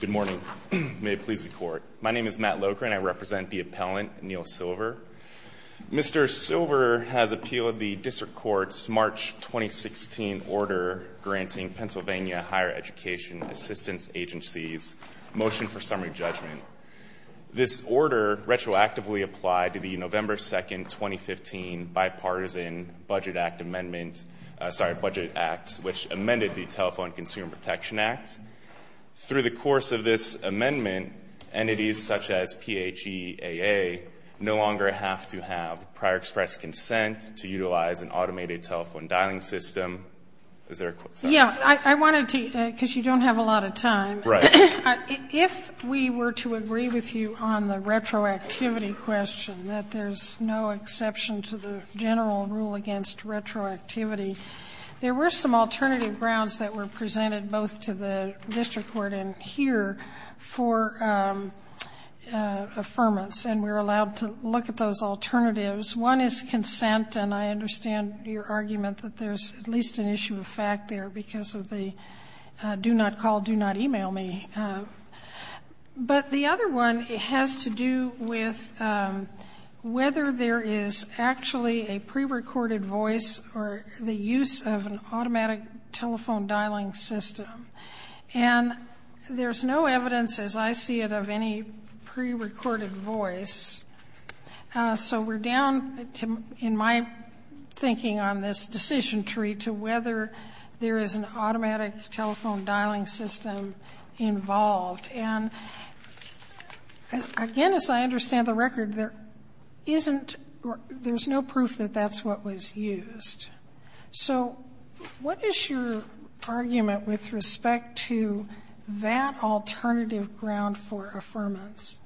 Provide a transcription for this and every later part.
Good morning. May it please the Court. My name is Matt Locher and I represent the appellant, Neil Silver. Mr. Silver has appealed the District Court's March 2016 order granting Pennsylvania Higher Education Assistance Agencies motion for summary judgment. This order retroactively applied to the November 2, 2015, bipartisan Budget Act amendment, sorry, Budget Act, which amended the Telephone Consumer Protection Act. Through the course of this amendment, entities such as PHEAA no longer have to have prior express consent to utilize an automated telephone dialing system. Is there a question? Yeah, I wanted to, because you don't have a lot of time. Right. If we were to agree with you on the retroactivity question, that there's no exception to the general rule against retroactivity, there were some alternative grounds that were presented both to the district court and here for affirmance, and we're allowed to look at those alternatives. One is consent, and I understand your argument that there's at least an issue of fact there because of the do not call, do not e-mail me. But the other one has to do with whether there is actually a prerecorded voice or the use of an automatic telephone dialing system. And there's no evidence, as I see it, of any prerecorded voice. So we're down, in my thinking on this decision tree, to whether there is an automatic telephone dialing system involved. And, again, as I understand the record, there isn't, there's no proof that that's what was used. So what is your argument with respect to that alternative ground for affirmance?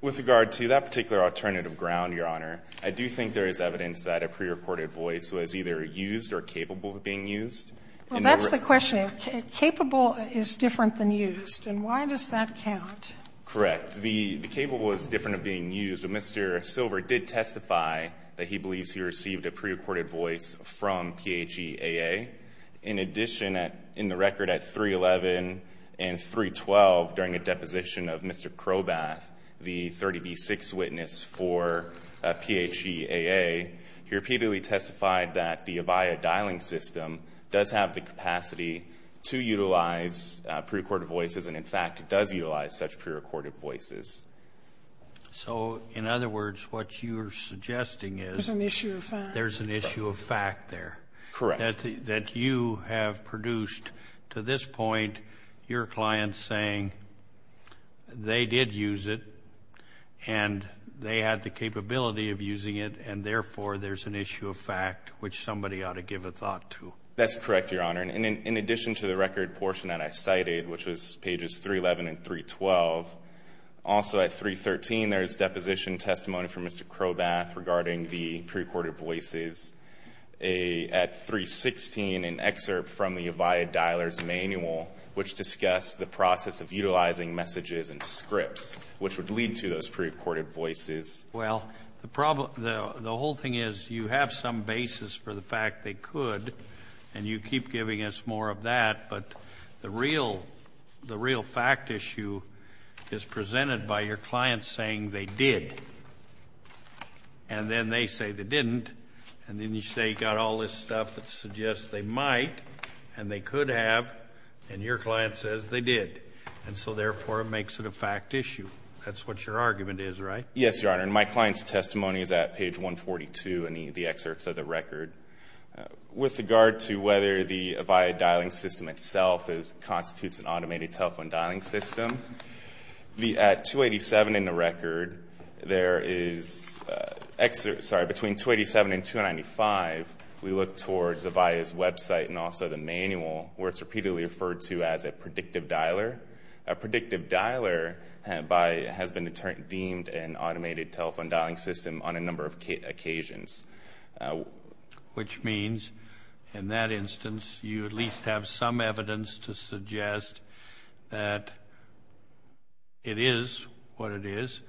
With regard to that particular alternative ground, Your Honor, I do think there is evidence that a prerecorded voice was either used or capable of being used. Well, that's the question. Capable is different than used, and why does that count? Correct. The capable is different of being used. But Mr. Silver did testify that he believes he received a prerecorded voice from PHEAA. In addition, in the record at 311 and 312, during the deposition of Mr. Crowbath, the 30B6 witness for PHEAA, he repeatedly testified that the Avaya dialing system does have the capacity to utilize prerecorded voices, and, in fact, it does utilize such prerecorded voices. So, in other words, what you're suggesting is there's an issue of fact there. Correct. That you have produced to this point your client saying they did use it and they had the capability of using it, and, therefore, there's an issue of fact which somebody ought to give a thought to. That's correct, Your Honor. And in addition to the record portion that I cited, which was pages 311 and 312, also at 313 there is deposition testimony from Mr. Crowbath regarding the prerecorded voices. At 316, an excerpt from the Avaya dialer's manual, which discussed the process of utilizing messages and scripts, which would lead to those prerecorded voices. Well, the whole thing is you have some basis for the fact they could, and you keep giving us more of that, but the real fact issue is presented by your client saying they did, and then they say they didn't, and then you say you got all this stuff that suggests they might and they could have, and your client says they did. And so, therefore, it makes it a fact issue. That's what your argument is, right? Yes, Your Honor. And my client's testimony is at page 142 in the excerpts of the record. With regard to whether the Avaya dialing system itself constitutes an automated telephone dialing system, at 287 in the record, there is, sorry, between 287 and 295, we look towards Avaya's website and also the manual where it's repeatedly referred to as a predictive dialer. A predictive dialer has been deemed an automated telephone dialing system on a number of occasions. Which means, in that instance, you at least have some evidence to suggest that it is what it is,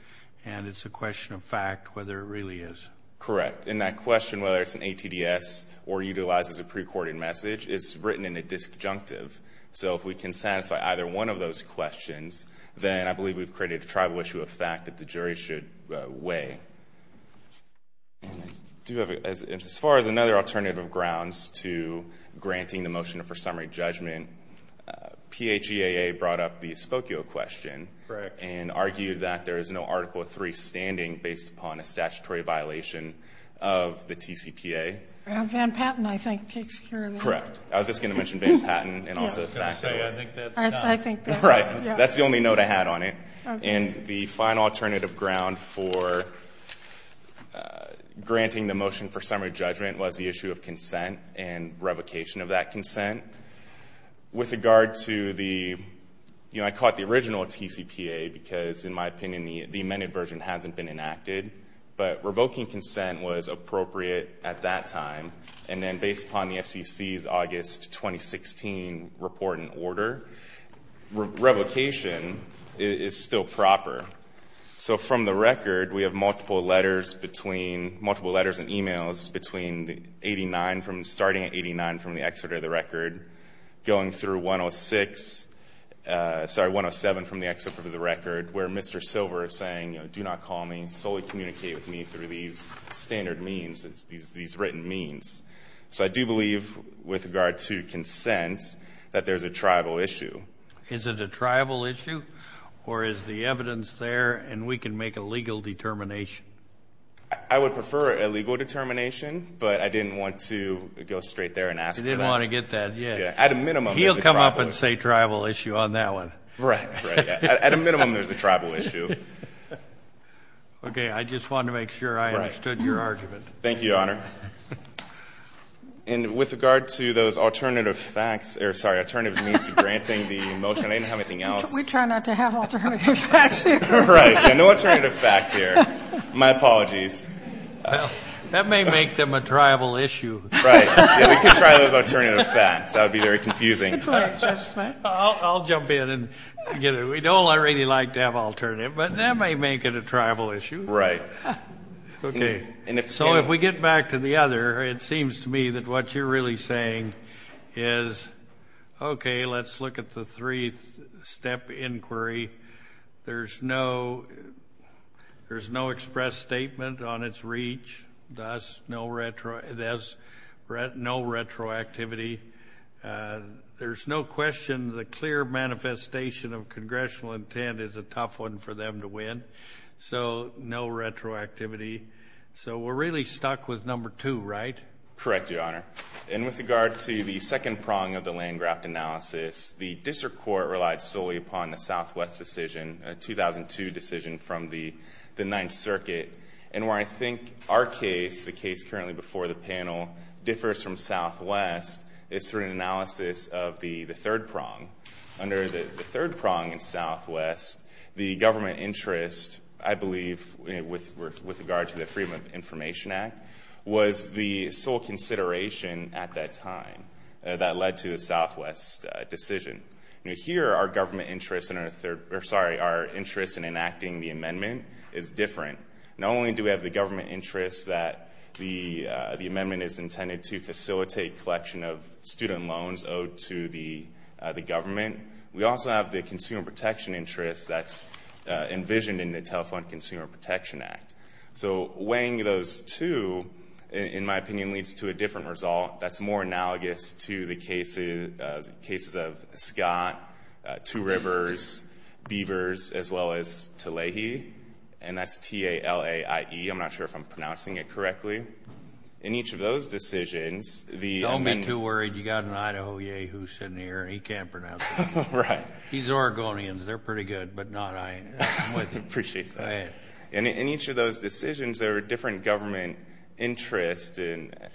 and it's a question of fact whether it really is. Correct. And that question, whether it's an ATDS or utilizes a pre-recorded message, is written in a disjunctive. So if we can satisfy either one of those questions, then I believe we've created a tribal issue of fact that the jury should weigh. As far as another alternative of grounds to granting the motion for summary judgment, PHEAA brought up the Spokio question and argued that there is no Article III standing based upon a statutory violation of the TCPA. Van Patten, I think, takes care of that. Correct. I was just going to mention Van Patten and also the fact that... I was going to say, I think that's not... Right. That's the only note I had on it. And the final alternative ground for granting the motion for summary judgment was the issue of consent and revocation of that consent. With regard to the... You know, I caught the original TCPA because, in my opinion, the amended version hasn't been enacted. But revoking consent was appropriate at that time. And then based upon the FCC's August 2016 report and order, revocation is still proper. So from the record, we have multiple letters between... Multiple letters and e-mails between the 89, starting at 89 from the excerpt of the record, going through 106... Sorry, 107 from the excerpt of the record, where Mr. Silver is saying, you know, So I do believe, with regard to consent, that there's a tribal issue. Is it a tribal issue? Or is the evidence there and we can make a legal determination? I would prefer a legal determination, but I didn't want to go straight there and ask for that. You didn't want to get that. Yeah. At a minimum, there's a tribal issue. He'll come up and say tribal issue on that one. Right. At a minimum, there's a tribal issue. Okay. I just wanted to make sure I understood your argument. Thank you, Your Honor. And with regard to those alternative facts or, sorry, alternative means of granting the motion, I didn't have anything else. We try not to have alternative facts here. Right. No alternative facts here. My apologies. That may make them a tribal issue. Right. Yeah, we could try those alternative facts. That would be very confusing. I'll jump in and get it. We don't really like to have alternative, but that may make it a tribal issue. Right. Okay. So, if we get back to the other, it seems to me that what you're really saying is, okay, let's look at the three-step inquiry. There's no express statement on its reach, thus no retroactivity. There's no question the clear manifestation of congressional intent is a tough one for them to win, so no retroactivity. So we're really stuck with number two, right? Correct, Your Honor. And with regard to the second prong of the land graft analysis, the district court relied solely upon the Southwest decision, a 2002 decision from the Ninth Circuit, and where I think our case, the case currently before the panel, differs from Southwest is through an analysis of the third prong. Under the third prong in Southwest, the government interest, I believe, with regard to the Freedom of Information Act, was the sole consideration at that time that led to the Southwest decision. Here, our government interest in our third or, sorry, our interest in enacting the amendment is different. Not only do we have the government interest that the amendment is intended to facilitate collection of student loans owed to the government, we also have the consumer protection interest that's envisioned in the Telephone Consumer Protection Act. So weighing those two, in my opinion, leads to a different result that's more analogous to the cases of Scott, Two Rivers, Beavers, as well as Talahi. And that's T-A-L-A-I-E. I'm not sure if I'm pronouncing it correctly. In each of those decisions, the amendment. Don't get too worried. You've got an Idaho Yeh who's sitting here, and he can't pronounce it. Right. He's Oregonian. They're pretty good. But not I. I'm with you. Go ahead. In each of those decisions, there were different government interests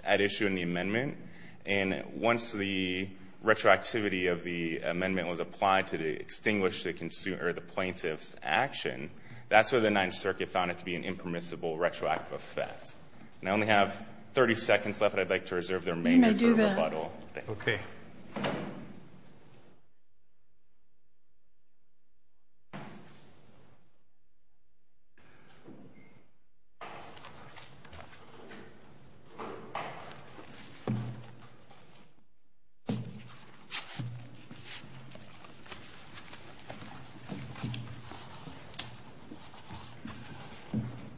at issue in the amendment. And once the retroactivity of the amendment was applied to extinguish the plaintiff's action, that's where the Ninth Circuit found it to be an impermissible retroactive effect. And I only have 30 seconds left. I'd like to reserve the remainder for rebuttal. You may do that. Okay.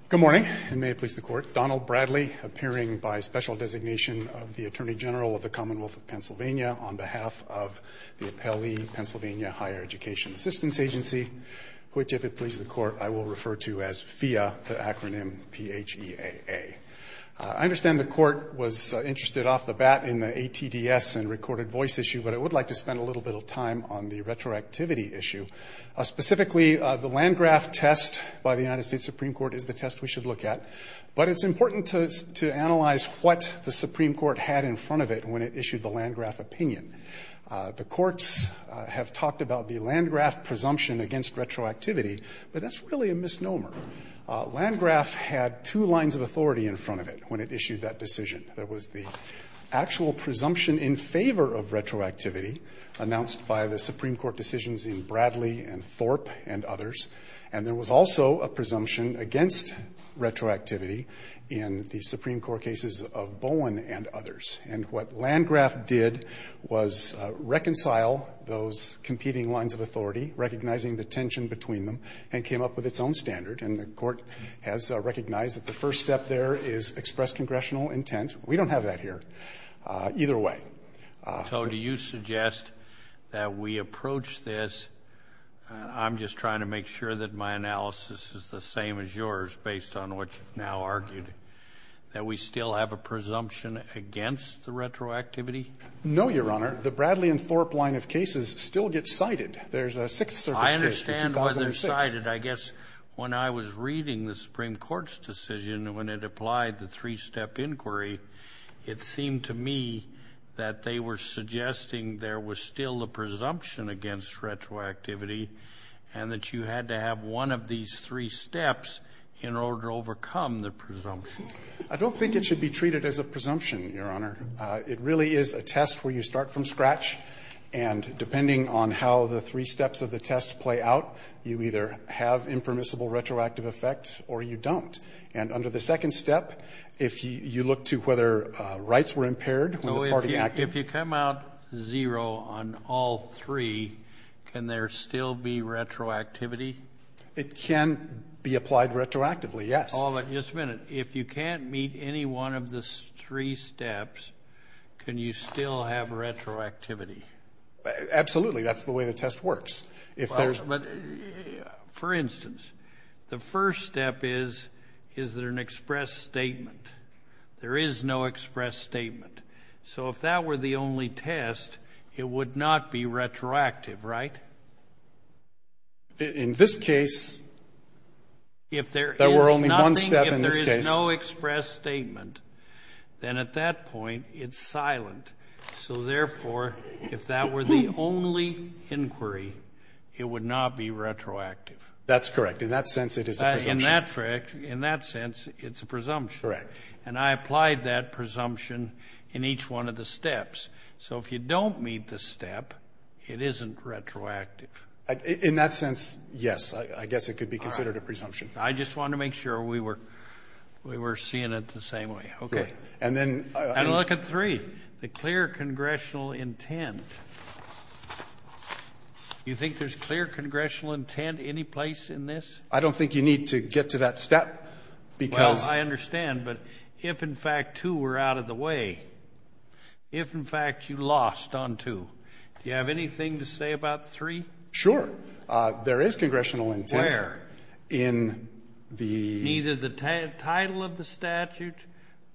Good morning, and may it please the Court. Donald Bradley, appearing by special designation of the Attorney General of the Commonwealth of Pennsylvania on behalf of the Appellee Pennsylvania Higher Education Assistance Agency, which, if it pleases the Court, I will refer to as PHEAA, the acronym P-H-E-A-A. I understand the Court was interested off the bat in the ATDS and recorded voice issue, but I would like to spend a little bit of time on the retroactivity issue. Specifically, the Landgraf test by the United States Supreme Court is the test we should look at, but it's important to analyze what the Supreme Court had in front of it when it issued the Landgraf opinion. The courts have talked about the Landgraf presumption against retroactivity, but that's really a misnomer. Landgraf had two lines of authority in front of it when it issued that decision. There was the actual presumption in favor of retroactivity announced by the Supreme Court decisions in Bradley and Thorpe and others, and there was also a presumption against retroactivity in the Supreme Court cases of Bowen and others. And what Landgraf did was reconcile those competing lines of authority, recognizing the tension between them, and came up with its own standard. And the Court has recognized that the first step there is express congressional intent. We don't have that here. Either way. Kennedy. So do you suggest that we approach this, I'm just trying to make sure that my analysis is the same as yours based on what you've now argued, that we still have a presumption against the retroactivity? No, Your Honor. The Bradley and Thorpe line of cases still gets cited. There's a Sixth Circuit case in 2006. I understand why they're cited. I guess when I was reading the Supreme Court's decision when it applied the three-step inquiry, it seemed to me that they were suggesting there was still a presumption against retroactivity and that you had to have one of these three steps in order to overcome the presumption. I don't think it should be treated as a presumption, Your Honor. It really is a test where you start from scratch, and depending on how the three steps of the test play out, you either have impermissible retroactive effects or you don't. And under the second step, if you look to whether rights were impaired when the party acted. So if you come out zero on all three, can there still be retroactivity? It can be applied retroactively, yes. Oh, but just a minute. If you can't meet any one of the three steps, can you still have retroactivity? Absolutely. That's the way the test works. For instance, the first step is, is there an express statement? There is no express statement. So if that were the only test, it would not be retroactive, right? In this case, there were only one step in this case. If there is nothing, if there is no express statement, then at that point it's silent. So therefore, if that were the only inquiry, it would not be retroactive. That's correct. In that sense, it is a presumption. In that sense, it's a presumption. Correct. And I applied that presumption in each one of the steps. So if you don't meet the step, it isn't retroactive. In that sense, yes. I guess it could be considered a presumption. All right. I just wanted to make sure we were seeing it the same way. Okay. And look at three, the clear congressional intent. Do you think there's clear congressional intent any place in this? I don't think you need to get to that step because – Well, I understand. But if, in fact, two were out of the way, if, in fact, you lost on two, do you have anything to say about three? Sure. There is congressional intent. Where? In the – Neither the title of the statute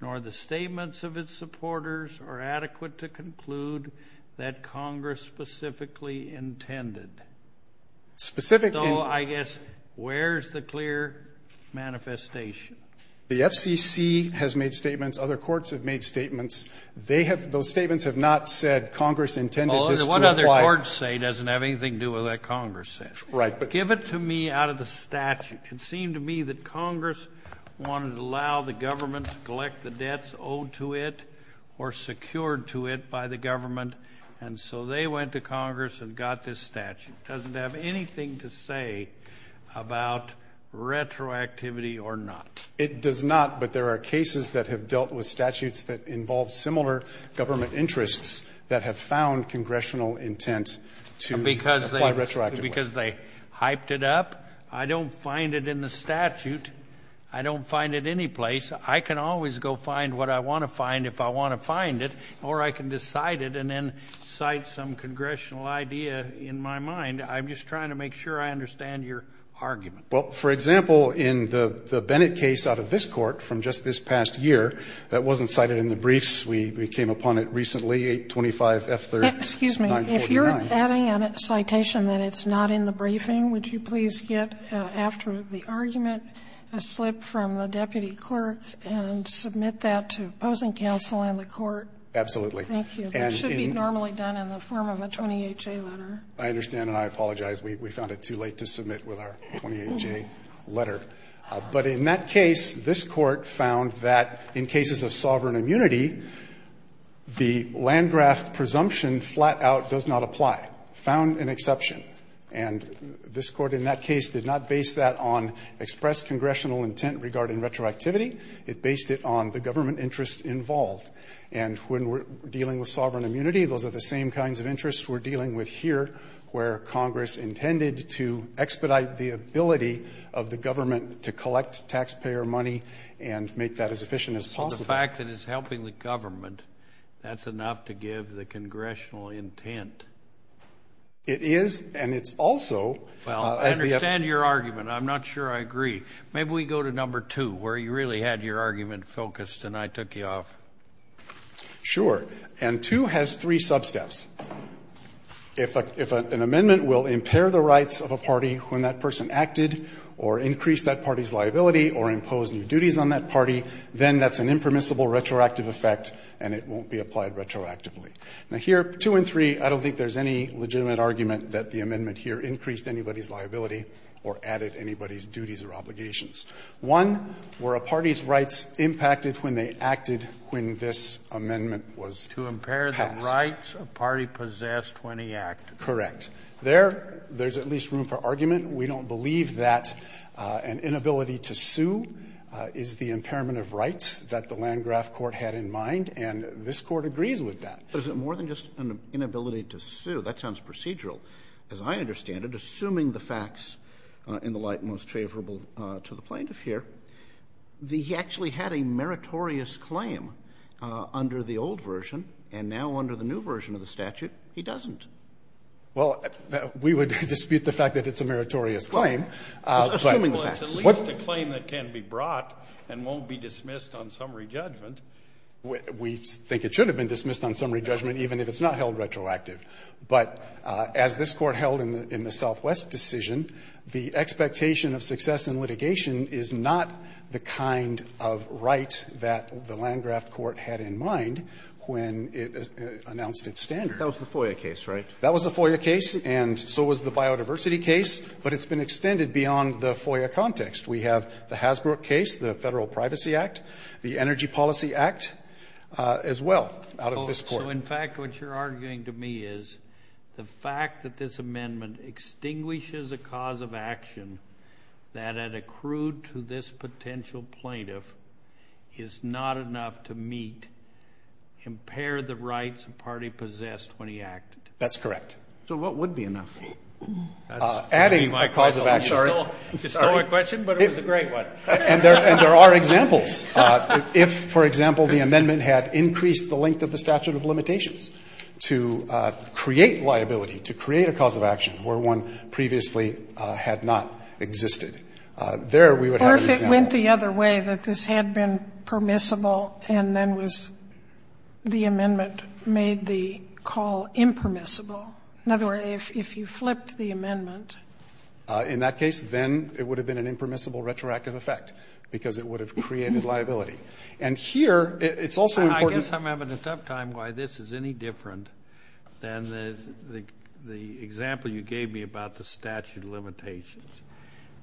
nor the statements of its supporters are adequate to conclude that Congress specifically intended. Specifically – So I guess where's the clear manifestation? The FCC has made statements. Other courts have made statements. They have – those statements have not said Congress intended this to apply. Well, what other courts say doesn't have anything to do with what Congress said. Right. But give it to me out of the statute. It seemed to me that Congress wanted to allow the government to collect the debts owed to it or secured to it by the government. And so they went to Congress and got this statute. It doesn't have anything to say about retroactivity or not. It does not. But there are cases that have dealt with statutes that involve similar government interests that have found congressional intent to apply retroactively. Because they hyped it up. I don't find it in the statute. I don't find it anyplace. I can always go find what I want to find if I want to find it, or I can just cite it and then cite some congressional idea in my mind. I'm just trying to make sure I understand your argument. Well, for example, in the Bennett case out of this Court from just this past year that wasn't cited in the briefs. We came upon it recently, 825F3, 949. Excuse me. If you're adding a citation that it's not in the briefing, would you please get after the argument a slip from the deputy clerk and submit that to opposing counsel and the Court? Absolutely. Thank you. That should be normally done in the form of a 20HA letter. I understand. And I apologize. We found it too late to submit with our 20HA letter. But in that case, this Court found that in cases of sovereign immunity, the Landgraf presumption flat out does not apply. Found an exception. And this Court in that case did not base that on expressed congressional intent regarding retroactivity. It based it on the government interest involved. And when we're dealing with sovereign immunity, those are the same kinds of interests we're dealing with here, where Congress intended to expedite the ability of the government to collect taxpayer money and make that as efficient as possible. So the fact that it's helping the government, that's enough to give the congressional intent. It is. And it's also as the ---- Well, I understand your argument. I'm not sure I agree. Maybe we go to number two, where you really had your argument focused and I took you off. Sure. And two has three sub-steps. If an amendment will impair the rights of a party when that person acted or increase that party's liability or impose new duties on that party, then that's an impermissible retroactive effect and it won't be applied retroactively. Now, here, two and three, I don't think there's any legitimate argument that the amendment here increased anybody's liability or added anybody's duties or obligations. One, were a party's rights impacted when they acted when this amendment was passed? To impair the rights a party possessed when he acted. Correct. There, there's at least room for argument. We don't believe that an inability to sue is the impairment of rights that the Land Graft Court had in mind, and this Court agrees with that. But is it more than just an inability to sue? That sounds procedural, as I understand it, assuming the facts in the light most favorable to the plaintiff here. He actually had a meritorious claim under the old version, and now under the new version of the statute, he doesn't. Well, we would dispute the fact that it's a meritorious claim. Assuming the facts. Well, it's at least a claim that can be brought and won't be dismissed on summary judgment. We think it should have been dismissed on summary judgment, even if it's not held retroactive. But as this Court held in the Southwest decision, the expectation of success in litigation is not the kind of right that the Land Graft Court had in mind when it announced its standard. That was the FOIA case, right? That was the FOIA case, and so was the biodiversity case. But it's been extended beyond the FOIA context. We have the Hasbro case, the Federal Privacy Act, the Energy Policy Act as well out of this Court. So, in fact, what you're arguing to me is the fact that this amendment extinguishes a cause of action that had accrued to this potential plaintiff is not enough to meet, impair the rights a party possessed when he acted. That's correct. So what would be enough? Adding my cause of action. It's still a question, but it was a great one. And there are examples. If, for example, the amendment had increased the length of the statute of limitations to create liability, to create a cause of action where one previously had not existed, there we would have an example. Or if it went the other way, that this had been permissible and then was the amendment made the call impermissible. In other words, if you flipped the amendment. In that case, then it would have been an impermissible retroactive effect, because it would have created liability. And here, it's also important. I guess I'm having a tough time why this is any different than the example you gave me about the statute of limitations.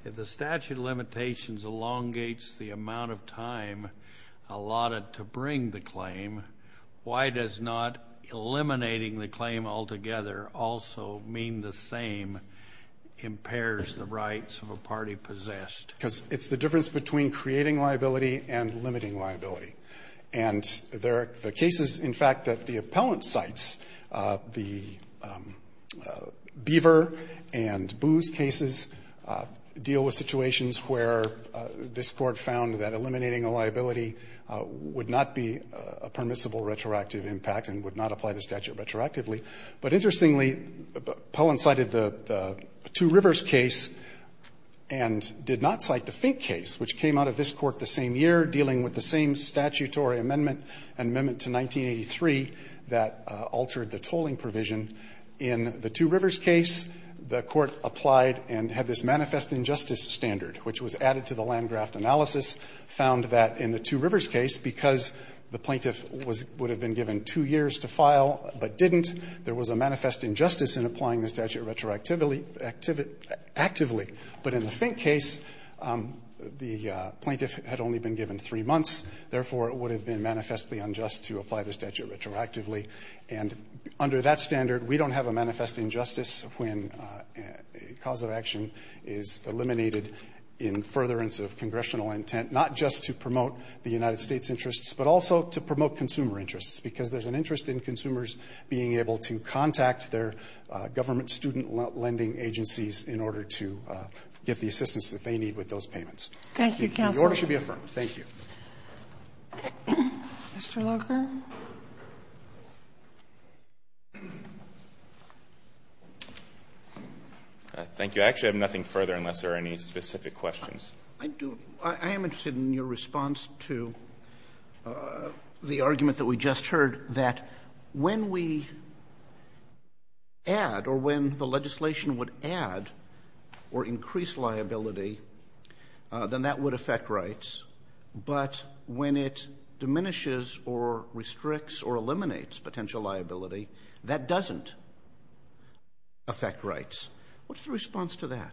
If the statute of limitations elongates the amount of time allotted to bring the claim, why does not eliminating the claim altogether also mean the same impairs the rights of a party possessed? Because it's the difference between creating liability and limiting liability. And there are cases, in fact, that the appellant cites. The Beaver and Booz cases deal with situations where this Court found that eliminating a liability would not be a permissible retroactive impact and would not apply the statute retroactively. But interestingly, Poehlin cited the Two Rivers case and did not cite the Fink case, which came out of this Court the same year, dealing with the same statutory amendment, Amendment to 1983, that altered the tolling provision. In the Two Rivers case, the Court applied and had this manifest injustice standard, which was added to the Landgraft analysis, found that in the Two Rivers case, because the plaintiff would have been given two years to file but didn't, there was a manifest injustice in applying the statute retroactively, actively. But in the Fink case, the plaintiff had only been given three months, therefore, it would have been manifestly unjust to apply the statute retroactively. And under that standard, we don't have a manifest injustice when a cause of action is eliminated in furtherance of congressional intent, not just to promote the United States' interests, but also to promote consumer interests, because there's an interest in consumers being able to contact their government student lending agencies in order to get the assistance that they need with those payments. The order should be affirmed. Thank you. Kagan. Mr. Locher. Locher, thank you. I actually have nothing further unless there are any specific questions. I do. I am interested in your response to the argument that we just heard, that when we add or when the legislation would add or increase liability, then that would affect rights, but when it diminishes or restricts or eliminates potential liability, that doesn't affect rights. What's the response to that?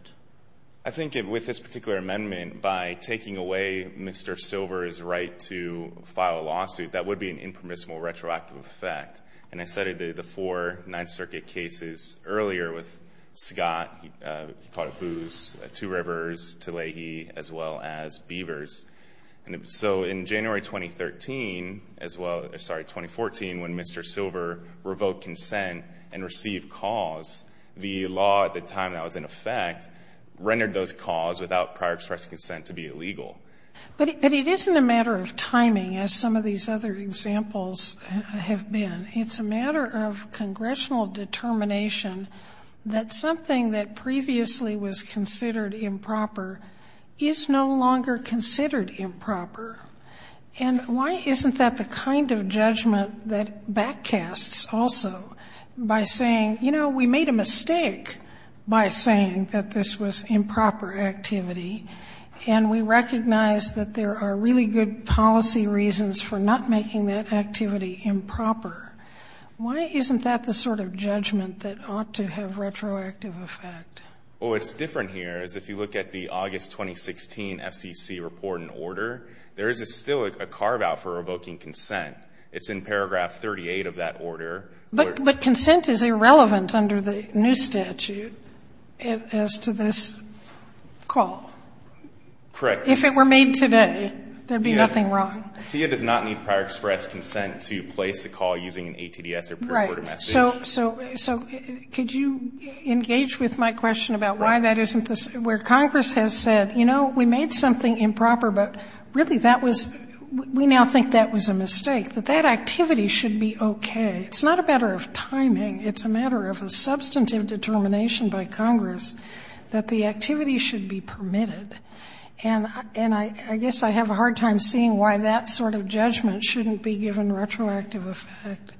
I think with this particular amendment, by taking away Mr. Silver's right to file a lawsuit, that would be an impermissible retroactive effect. And I cited the four Ninth Circuit cases earlier with Scott, he caught a booze, Two Rivers, Tlahee, as well as Beavers. And so in January 2013, as well, sorry, 2014, when Mr. Silver revoked consent and received calls, the law at the time that was in effect rendered those calls without prior express consent to be illegal. But it isn't a matter of timing, as some of these other examples have been. It's a matter of congressional determination that something that previously was considered improper is no longer considered improper. And why isn't that the kind of judgment that back casts also by saying, you know, we made a mistake by saying that this was improper activity. And we recognize that there are really good policy reasons for not making that activity improper. Why isn't that the sort of judgment that ought to have retroactive effect? Well, what's different here is if you look at the August 2016 FCC report and order, there is still a carve out for revoking consent. It's in paragraph 38 of that order. But consent is irrelevant under the new statute as to this call. Correct. If it were made today, there'd be nothing wrong. Thea does not need prior express consent to place a call using an ATDS or pre-recorded message. So could you engage with my question about why that isn't the, where Congress has said, you know, we made something improper, but really that was, we now think that was a mistake. That that activity should be okay. It's not a matter of timing. It's a matter of a substantive determination by Congress that the activity should be permitted. And I guess I have a hard time seeing why that sort of judgment shouldn't be given retroactive effect.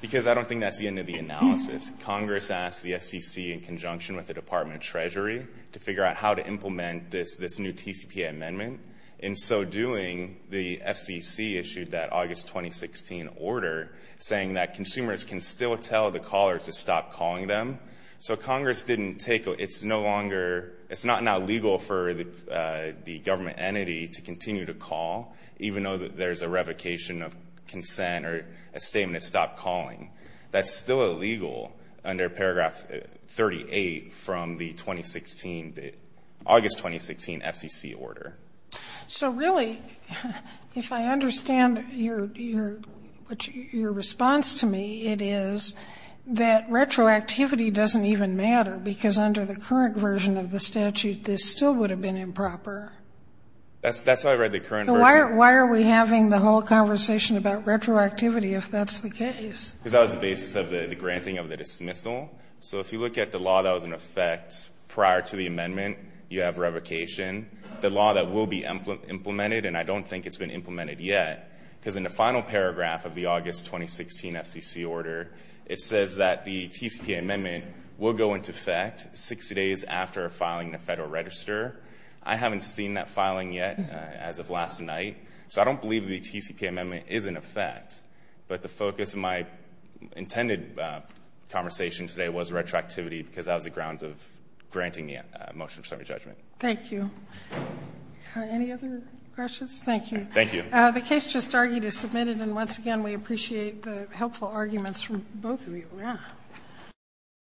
Because I don't think that's the end of the analysis. Congress asked the FCC in conjunction with the Department of Treasury to figure out how to implement this new TCPA amendment. In so doing, the FCC issued that August 2016 order saying that consumers can still tell the caller to stop calling them. So Congress didn't take, it's no longer, it's not now legal for the government entity to continue to call, even though there's a revocation of consent or a statement to stop calling. That's still illegal under paragraph 38 from the 2016, the August 2016 FCC order. So really, if I understand your response to me, it is that retroactivity doesn't even matter. Because under the current version of the statute, this still would have been improper. That's how I read the current version. Why are we having the whole conversation about retroactivity if that's the case? Because that was the basis of the granting of the dismissal. So if you look at the law that was in effect prior to the amendment, you have revocation. The law that will be implemented, and I don't think it's been implemented yet, because in the final paragraph of the August 2016 FCC order, it says that the TCPA amendment will go into effect six days after filing the Federal Register. I haven't seen that filing yet, as of last night. So I don't believe the TCPA amendment is in effect. But the focus of my intended conversation today was retroactivity, because that was the grounds of granting the motion for summary judgment. Thank you. Any other questions? Thank you. Thank you. The case just argued is submitted, and once again, we appreciate the helpful arguments from both of you, yeah.